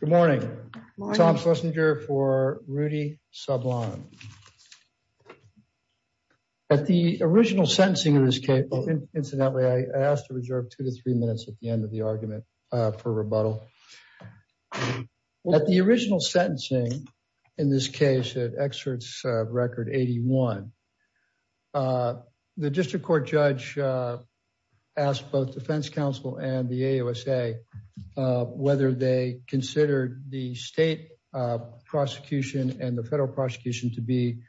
Good morning. Tom Schlesinger for Rudy Sablan. At the original sentencing of this case, incidentally, I asked to reserve two to three minutes at the end of the argument for rebuttal. At the original sentencing, in this case, at excerpts record 81, the district court judge asked both defense counsel and the AUSA whether they considered the state prosecution and the federal prosecution to be,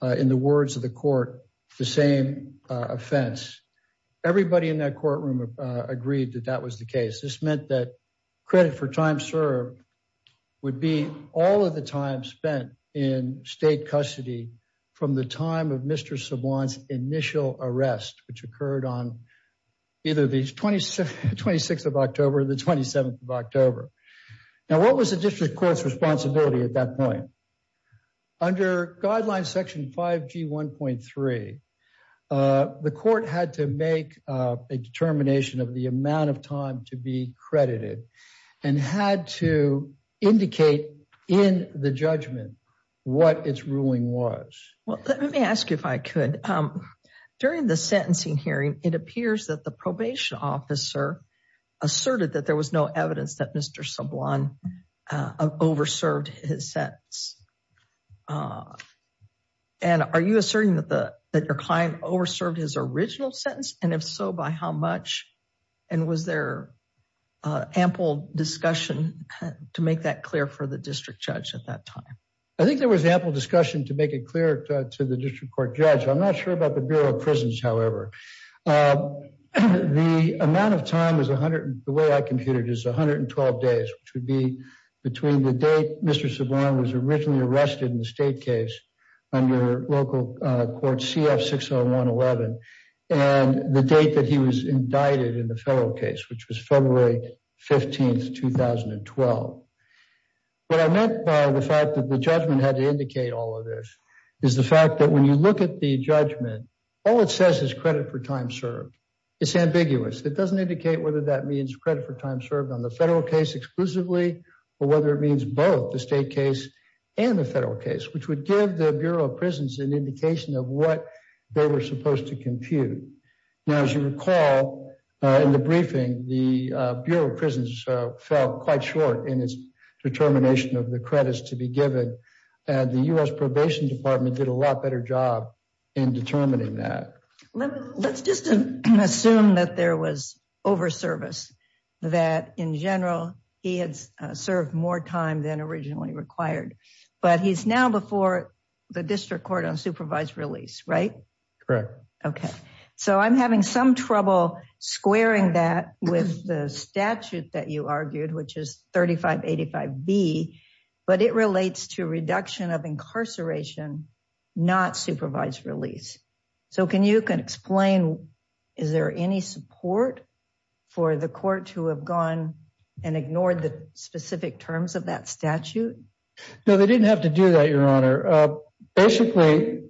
in the words of the court, the same offense. Everybody in that courtroom agreed that that was the case. This meant that credit for time served would be all of the time spent in state custody from the time of Mr. Sablan's initial arrest, which occurred on either the 26th of October or the 27th of October. Now, what was the district court's responsibility at that point? Under Guidelines Section 5G1.3, the court had to make a determination of the amount of time to be credited and had to indicate in the judgment what its ruling was. Well, let me ask you if I could. During the sentencing hearing, it appears that the probation officer asserted that there was no evidence that Mr. Sablan over-served his sentence. And are you asserting that your client over-served his original sentence? And if so, by how much? And was there ample discussion to make that clear for the district judge at that time? I think there was ample discussion to make it clear to the district court judge. I'm not sure about the Bureau of Prisons, however. The amount of time, the way I computed it, is 112 days, which would be between the date Mr. Sablan was originally arrested in the state case under local court CF-60111 and the date that he was indicted in the federal case, which was February 15, 2012. What I meant by the fact that the judgment had to indicate all of this is the fact that when you look at the judgment, all it says is credit for time served. It's ambiguous. It doesn't indicate whether that means credit for time served on the federal case exclusively or whether it means both the state case and the federal case, which would give the Bureau of Prisons an indication of what they were supposed to compute. Now, as you recall, in the briefing, the Bureau of Prisons fell quite short in its determination of the credits to be and the U.S. Probation Department did a lot better job in determining that. Let's just assume that there was over service, that in general he had served more time than originally required, but he's now before the district court on supervised release, right? Correct. Okay, so I'm having some trouble squaring that with the statute that you argued, which is 3585B, but it relates to reduction of incarceration, not supervised release. So can you explain, is there any support for the court to have gone and ignored the specific terms of that statute? No, they didn't have to do that, Your Honor. Basically,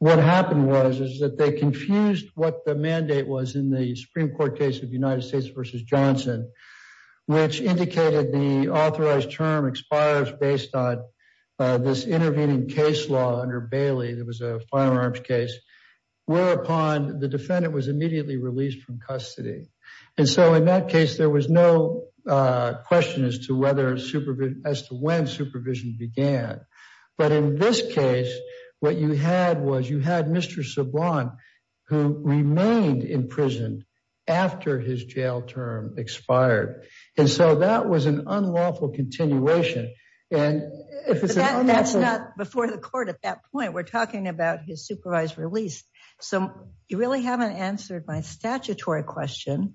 what happened was that they confused what the mandate was in the Supreme Court case of United States v. Johnson, which indicated the authorized term expires based on this intervening case law under Bailey, there was a firearms case, whereupon the defendant was immediately released from custody. And so in that case, there was no question as to when supervision began. But in this case, what you had was you had Mr. Sablon, who remained in prison after his jail term expired. And so that was an unlawful continuation. And that's not before the court at that point, we're talking about his supervised release. So you really haven't answered my statutory question.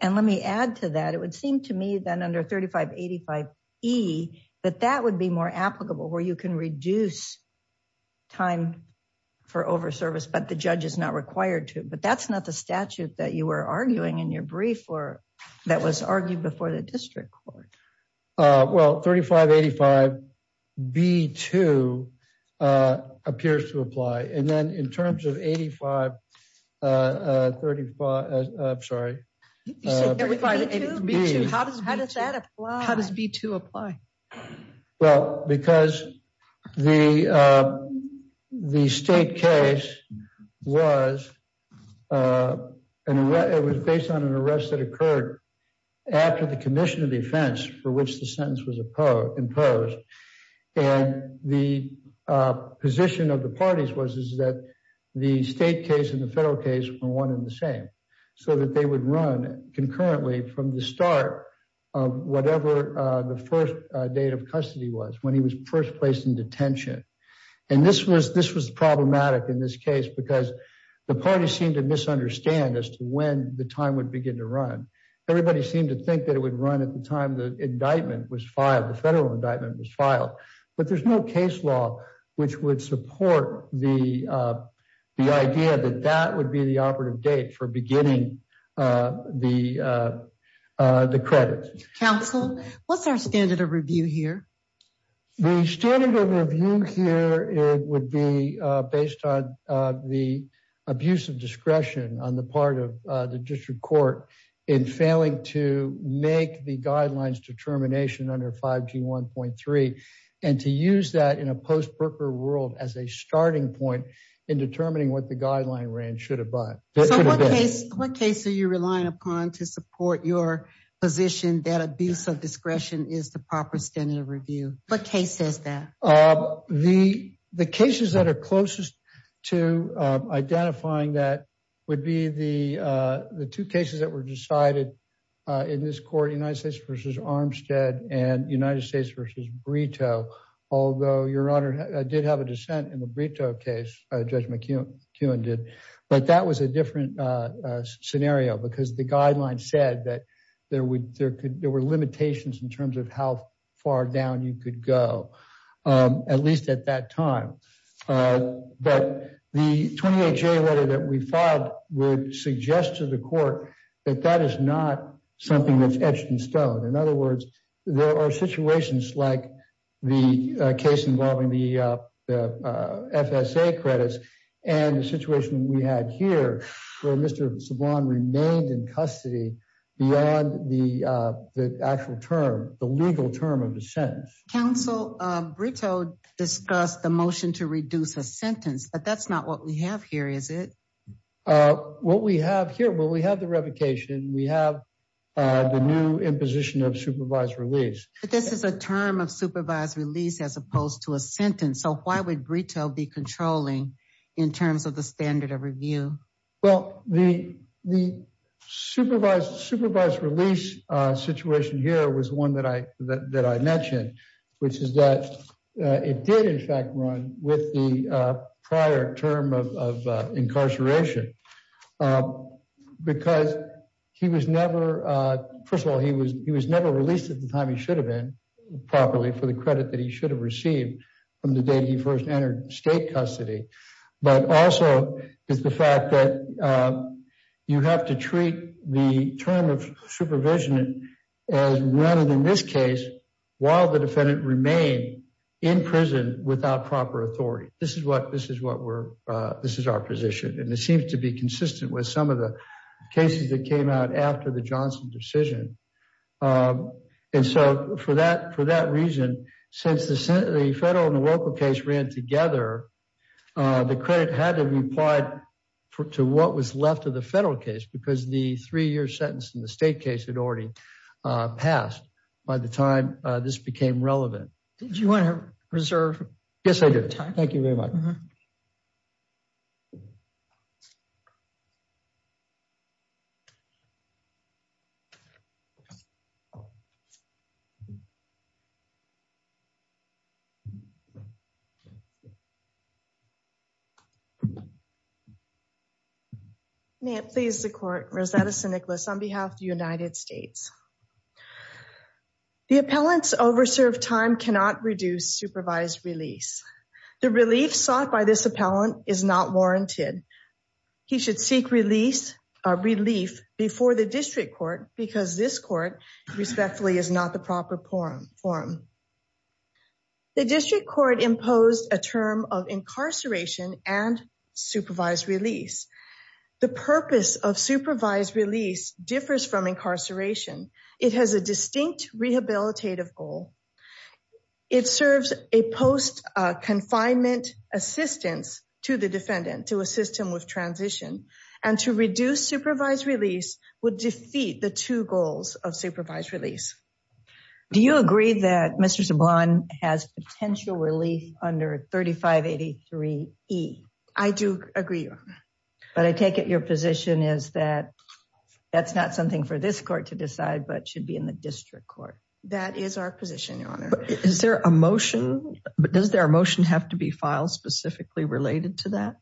And let me add to that, it would seem to me that under 3585E, that that would be more applicable, where you can reduce time for over service, but the judge is not required to. But that's not the statute that you were arguing in your brief or that was argued before the district court. Well, 3585B2 appears to apply. And then in terms of 8535, I'm sorry. You said 8535B2? How does that apply? How does B2 apply? Well, because the state case was, and it was based on an arrest that occurred after the commission of defense for which the sentence was imposed. And the position of the parties was is that the state case and the federal case were one and the same, so that they would run concurrently from the start of whatever the first date of custody was when he was first placed in detention. And this was problematic in this case, because the party seemed to misunderstand as to when the time would begin to run. Everybody seemed to think that it would run at the time the indictment was filed, the federal indictment was filed. But there's no case law, which would support the idea that that would be the operative date for beginning the credit. Council, what's our standard of review here? The standard of review here would be based on the abuse of discretion on the part of the district court in failing to make the guidelines determination under 5G1.3, and to use that in a post-Brooker world as a starting point in determining what the guideline ran should have been. So what case are you relying upon to support your position that abuse of discretion is the proper standard of review? What case says that? The cases that are closest to identifying that would be the two cases that were decided in this court, United States v. Armstead and United States v. Brito. Although, Your Honor, I did have a dissent in the Brito case, Judge McEwen did, but that was a different scenario because the guideline said that there were limitations in terms of how far down you could go, at least at that time. But the 28J letter that we filed would suggest to the court that that is not something that's etched in stone. In other words, there are situations like the case involving the FSA credits and the situation we had here where Mr. Saban remained in custody beyond the actual term, the legal term of the sentence. Counsel, Brito discussed the motion to reduce a sentence, but that's not what we have here, is it? What we have here, well, we have the revocation, we have the new imposition of supervised release. But this is a term of supervised release as opposed to a sentence, so why would Brito be controlling in terms of the standard of review? Well, the supervised release situation here was one that I mentioned, which is that it did in fact run with the prior term of incarceration because he was never, first of all, he was never released at the time he properly for the credit that he should have received from the day he first entered state custody. But also is the fact that you have to treat the term of supervision as run in this case while the defendant remained in prison without proper authority. This is what we're, this is our position, and it seems to be consistent with some of the cases that came out after the Johnson decision. And so for that, for that reason, since the federal and the local case ran together, the credit had to be applied to what was left of the federal case because the three-year sentence in the state case had already passed by the time this became known. May it please the court, Rosetta St. Nicholas on behalf of the United States. The appellant's overserved time cannot reduce supervised release. The relief sought by this because this court respectfully is not the proper forum. The district court imposed a term of incarceration and supervised release. The purpose of supervised release differs from incarceration. It has a distinct rehabilitative goal. It serves a post confinement assistance to the defendant to assist him with transition and to reduce supervised release would defeat the two goals of supervised release. Do you agree that Mr. Subban has potential relief under 3583E? I do agree, Your Honor. But I take it your position is that that's not something for this court to decide, but should be in the district court. That is our position, Your Honor. Is there a motion? Does their motion have to be filed specifically related to that?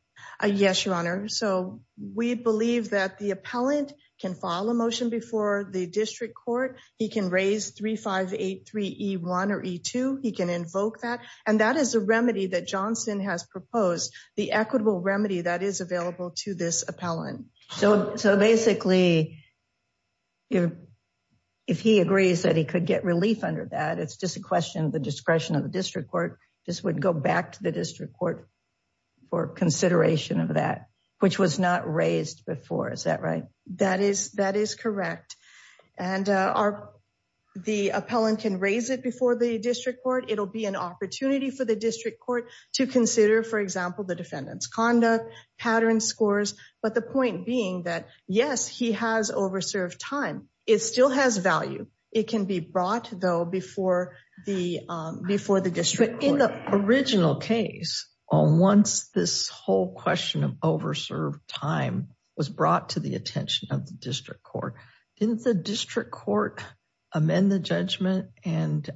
Yes, Your Honor. So we believe that the appellant can file a motion before the district court. He can raise 3583E1 or E2. He can invoke that. And that is a remedy that Johnson has proposed, the equitable remedy that is available to this appellant. So basically, if he agrees that he could get relief under that, it's just a question of the discretion of the district court. This would go back to the district court for consideration of that, which was not raised before. Is that right? That is correct. And the appellant can raise it before the district court. It'll be an opportunity for the district court to consider, for example, the defendant's conduct, pattern scores. But the point being that yes, he has overserved time. It still has value. It can be brought, though, before the district court. In the original case, once this whole question of overserved time was brought to the attention of the district court, didn't the district court amend the judgment and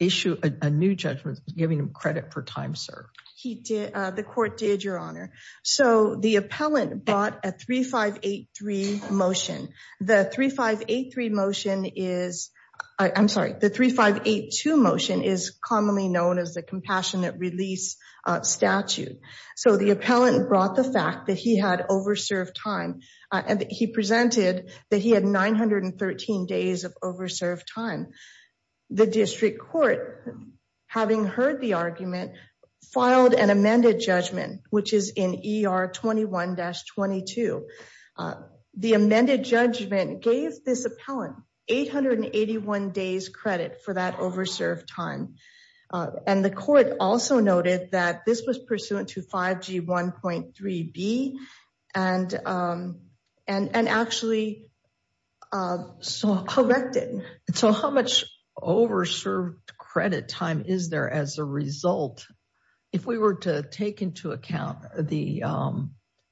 issue a new judgment, giving him credit for time served? He did. The court did, Your Honor. So the appellant brought a 3583 motion. The 3583 motion is, I'm sorry, the 3582 motion is commonly known as the compassionate release statute. So the appellant brought the fact that he had overserved time and he presented that he had 913 days of overserved time. The district court, having heard the argument, filed an amended judgment, which is in ER 21-22. The amended judgment gave this appellant 881 days credit for that overserved time. And the court also noted that this was pursuant to 5G 1.3b and actually corrected. So how much overserved credit time is there as a result, if we were to take into account the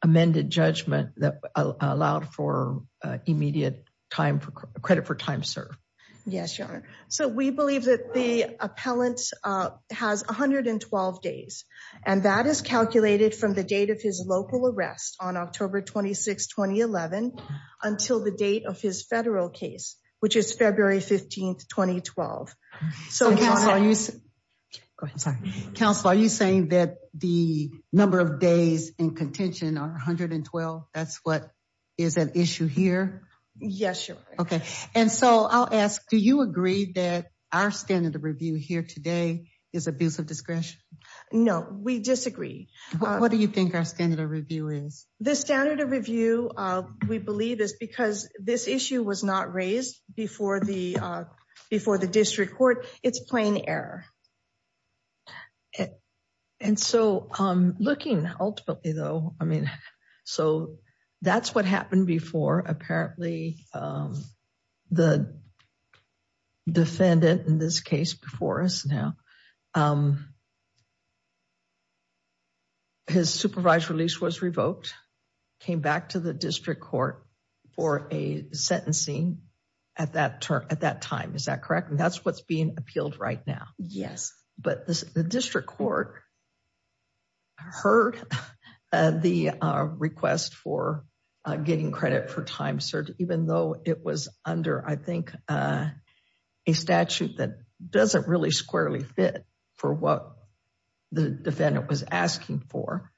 amended judgment that allowed for immediate credit for time served? Yes, Your Honor. So we believe that the appellant has 112 days, and that is calculated from the date of his local arrest on October 26, 2011, until the date of his federal case, which is February 15, 2012. So counsel, are you saying that the number of days in contention are 112? That's what is an issue here? Yes, Your Honor. Okay. And so I'll ask, do you agree that our standard of review here today is abuse of discretion? No, we disagree. What do you think our standard of review is? The standard of review, we believe, is because this issue was not raised before the district court. It's plain error. And so looking ultimately, though, so that's what happened before. Apparently, the defendant in this case before us now, his supervised release was revoked, came back to the district court for a sentencing at that time, is that correct? And that's what's being appealed right now? Yes. But the district court heard the request for getting credit for time served, even though it was under, I think, a statute that doesn't really squarely fit for what the defendant was asking for.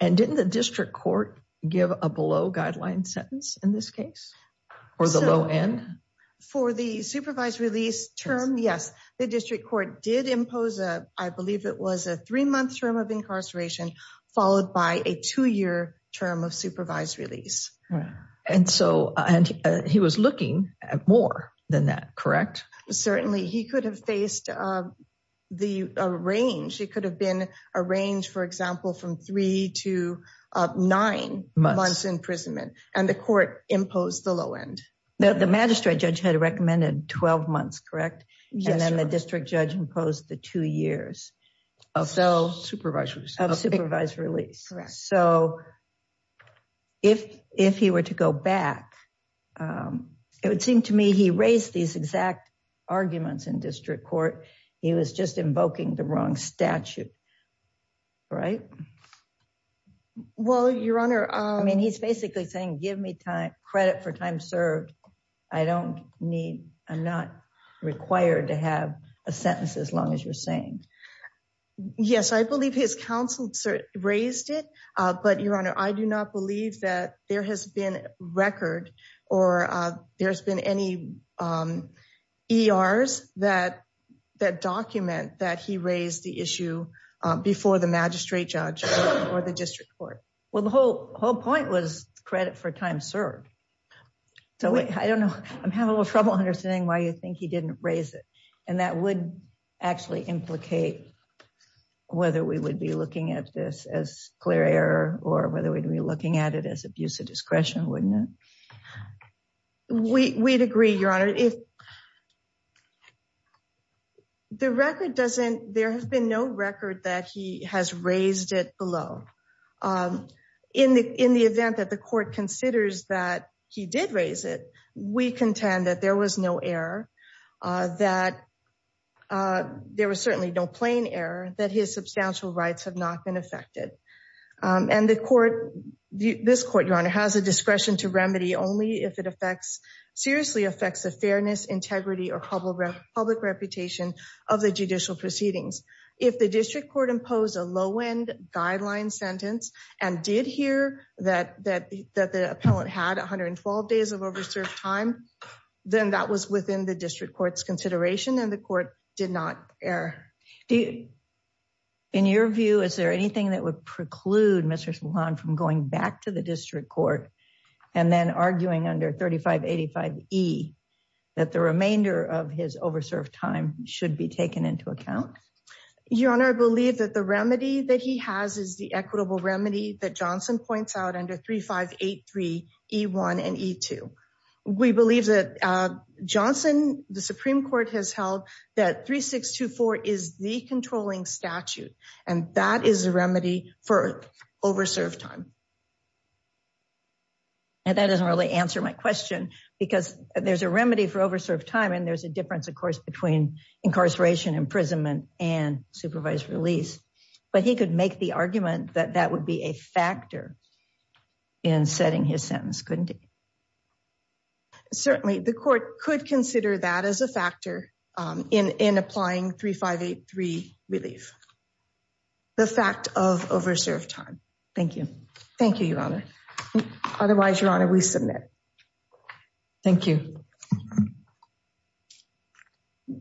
And didn't the district court give a below guideline sentence in this case, or the low end? For the supervised release term? Yes. The district court did impose a, I believe it was a three month term of incarceration, followed by a two year term of supervised release. And he was looking at more than that, correct? Certainly. He could have faced a range. It could have been a range, for example, from three to nine months imprisonment, and the court imposed the low end. The magistrate judge had recommended 12 months, correct? And then the district judge imposed the two years of supervised release. So if he were to go back, it would seem to me he raised these exact arguments in district court. He was just invoking the wrong statute, right? Well, your honor, I mean, he's basically saying, give me credit for time served. I don't need, I'm not required to have a sentence as long as you're saying. Yes, I believe his counsel raised it. But your honor, I do not believe that there has been record or there's been any ERs that document that he raised the issue before the magistrate judge or the district court. Well, the whole point was credit for time served. So I don't know, I'm having a little trouble understanding why you think he didn't raise it. And that would actually implicate whether we would be looking at this as clear error, or whether we'd be looking at it as abuse of discretion, wouldn't it? We'd agree, your honor. The record doesn't, there has been no record that he has raised it below. In the event that the court considers that he did raise it, we contend that there was no error, that there was certainly no plain error, that his substantial rights have not been affected. And the court, this court, your honor, has a discretion to remedy only if it seriously affects the fairness, integrity, or public reputation of the judicial proceedings. If the district court imposed a low-end guideline sentence and did hear that the appellant had 112 days of over served time, then that was within the district court's consideration and the court did not err. In your view, is there anything that would preclude Mr. Solan from going back to the district court and then arguing under 3585E that the remainder of his over served time should be taken into account? Your honor, I believe that the remedy that he has is the equitable remedy that Johnson points out under 3583E1 and E2. We believe that Johnson, the Supreme Court, has held that 3624 is the controlling statute and that is a remedy for over served time. And that doesn't really answer my question because there's a remedy for over time and there's a difference, of course, between incarceration, imprisonment, and supervised release. But he could make the argument that that would be a factor in setting his sentence, couldn't it? Certainly, the court could consider that as a factor in applying 3583 relief. The fact of over served time. Thank you. Thank you, your honor. Otherwise, your honor, we submit. Thank you. The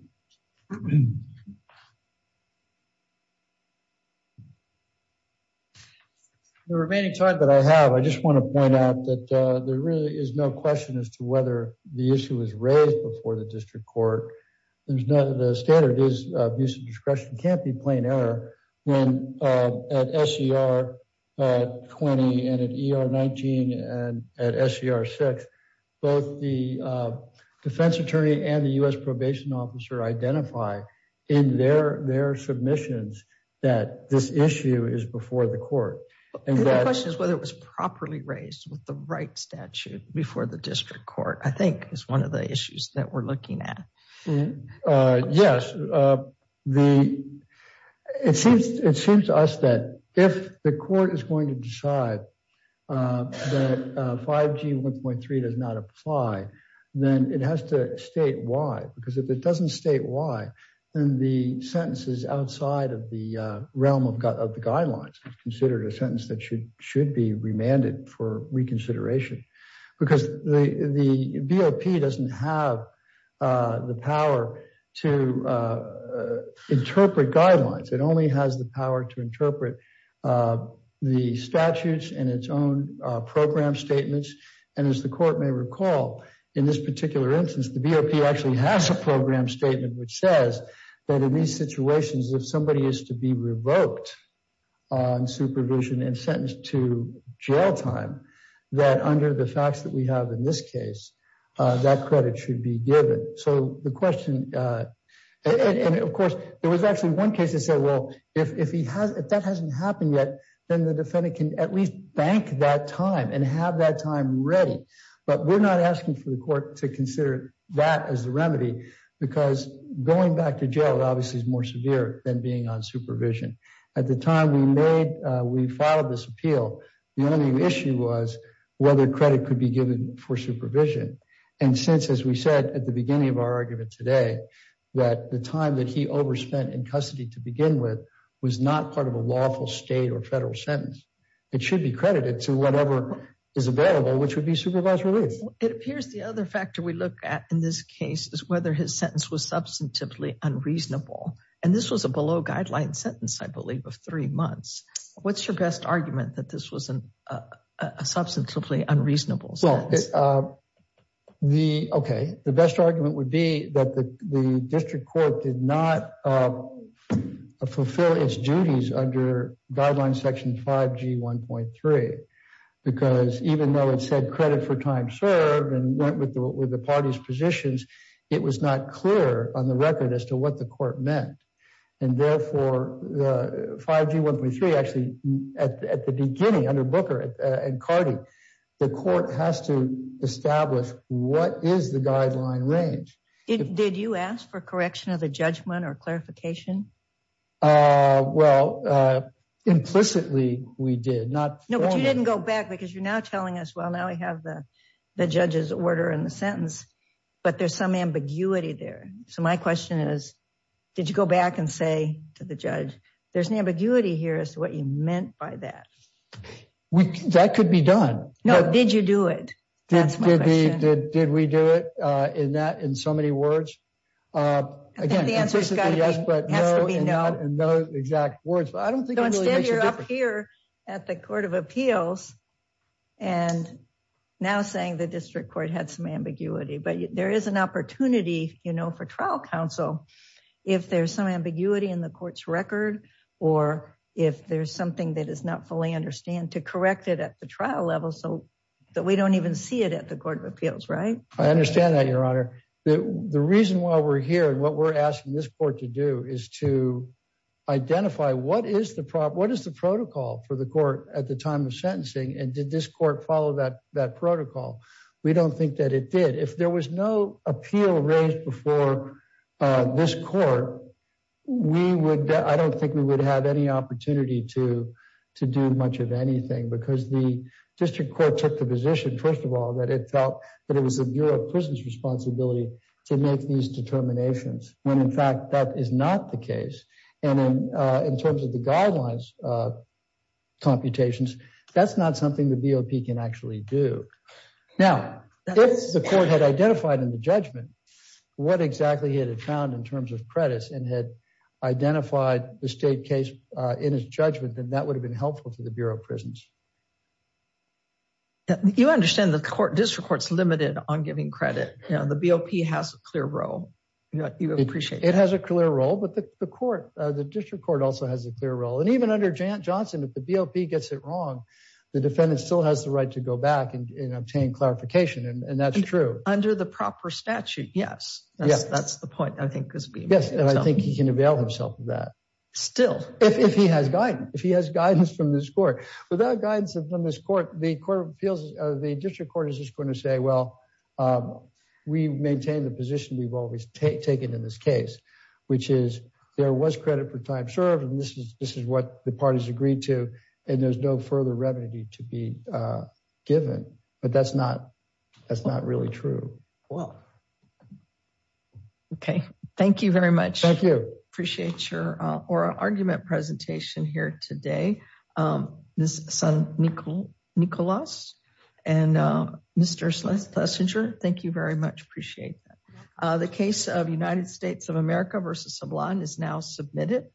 remaining time that I have, I just want to point out that there really is no question as to whether the issue was raised before the district court. There's no, the standard is abuse of discretion can't be plain error when at SER20 and at ER19 and at SER6, both the defense attorney and the U.S. probation officer identify in their submissions that this issue is before the court. The question is whether it was properly raised with the right statute before the district court, I think is one of the issues that we're looking at. Yes, it seems to us that if the court is going to decide that 5G 1.3 does not apply, then it has to state why. Because if it doesn't state why, then the sentences outside of the realm of the guidelines is considered a sentence that should be remanded for reconsideration. Because the BOP doesn't have the power to interpret guidelines. It only has the power to interpret the statutes and its own program statements. And as the court may recall, in this particular instance, the BOP actually has a program statement which says that in these situations, if somebody is to be revoked on supervision and sentenced to jail time, that under the tax that we have in this case, that credit should be given. So the question, and of course, there was actually one case that said, well, if that hasn't happened yet, then the defendant can at least bank that time and have that time ready. But we're not asking for the court to consider that as the remedy, because going back to jail obviously is more severe than being on supervision. At the time we filed this appeal, the only issue was whether credit could be given for supervision. And since, as we said at the beginning of our argument today, that the time that he overspent in custody to begin with was not part of a lawful state or federal sentence, it should be credited to whatever is available, which would be supervised release. It appears the other factor we look at in this case is whether his sentence was substantively unreasonable. And this was a below-guideline sentence, I believe, of three months. What's your best argument that this was a substantively unreasonable sentence? Okay. The best argument would be that the district court did not fulfill its duties under Guidelines Section 5G1.3, because even though it said credit for time served and went with the party's positions, it was not clear on the record as to what the court meant. And therefore, 5G1.3 actually, at the beginning, under Booker and Cardi, the court has to establish what is the guideline range. Did you ask for correction of the judgment or clarification? Well, implicitly we did. No, but you didn't go back because you're now telling us, well, we have the judge's order in the sentence, but there's some ambiguity there. So my question is, did you go back and say to the judge, there's an ambiguity here as to what you meant by that? That could be done. No, did you do it? That's my question. Did we do it in so many words? Again, implicitly yes, but no exact words. You're up here at the Court of Appeals and now saying the district court had some ambiguity, but there is an opportunity for trial counsel if there's some ambiguity in the court's record, or if there's something that is not fully understand to correct it at the trial level, so that we don't even see it at the Court of Appeals, right? I understand that, Your Honor. The reason why we're here and what we're asking this court to do is to identify what is the protocol for the court at the time of sentencing, and did this court follow that protocol? We don't think that it did. If there was no appeal raised before this court, I don't think we would have any opportunity to do much of anything because the district court took the position, first of all, that it felt that it was the Bureau of And in terms of the guidelines computations, that's not something the BOP can actually do. Now, if the court had identified in the judgment what exactly it had found in terms of credits and had identified the state case in its judgment, then that would have been helpful to the Bureau of Prisons. You understand the district court is limited on giving credit. The BOP has a clear role. You appreciate that. It has a clear role, but the district court also has a clear role. And even under Johnson, if the BOP gets it wrong, the defendant still has the right to go back and obtain clarification, and that's true. Under the proper statute, yes. That's the point, I think. Yes, and I think he can avail himself of that. Still. If he has guidance from this court. Without guidance from this court, the district court is just going to say, well, we maintain the position we've always taken in this case, which is there was credit for time served, and this is what the parties agreed to, and there's no further remedy to be given. But that's not really true. Well, okay. Thank you very much. Thank you. Appreciate your argument presentation here today. Nicholas and Mr. Schlesinger, thank you very much. Appreciate that. The case of United States of America v. Sablan is now submitted.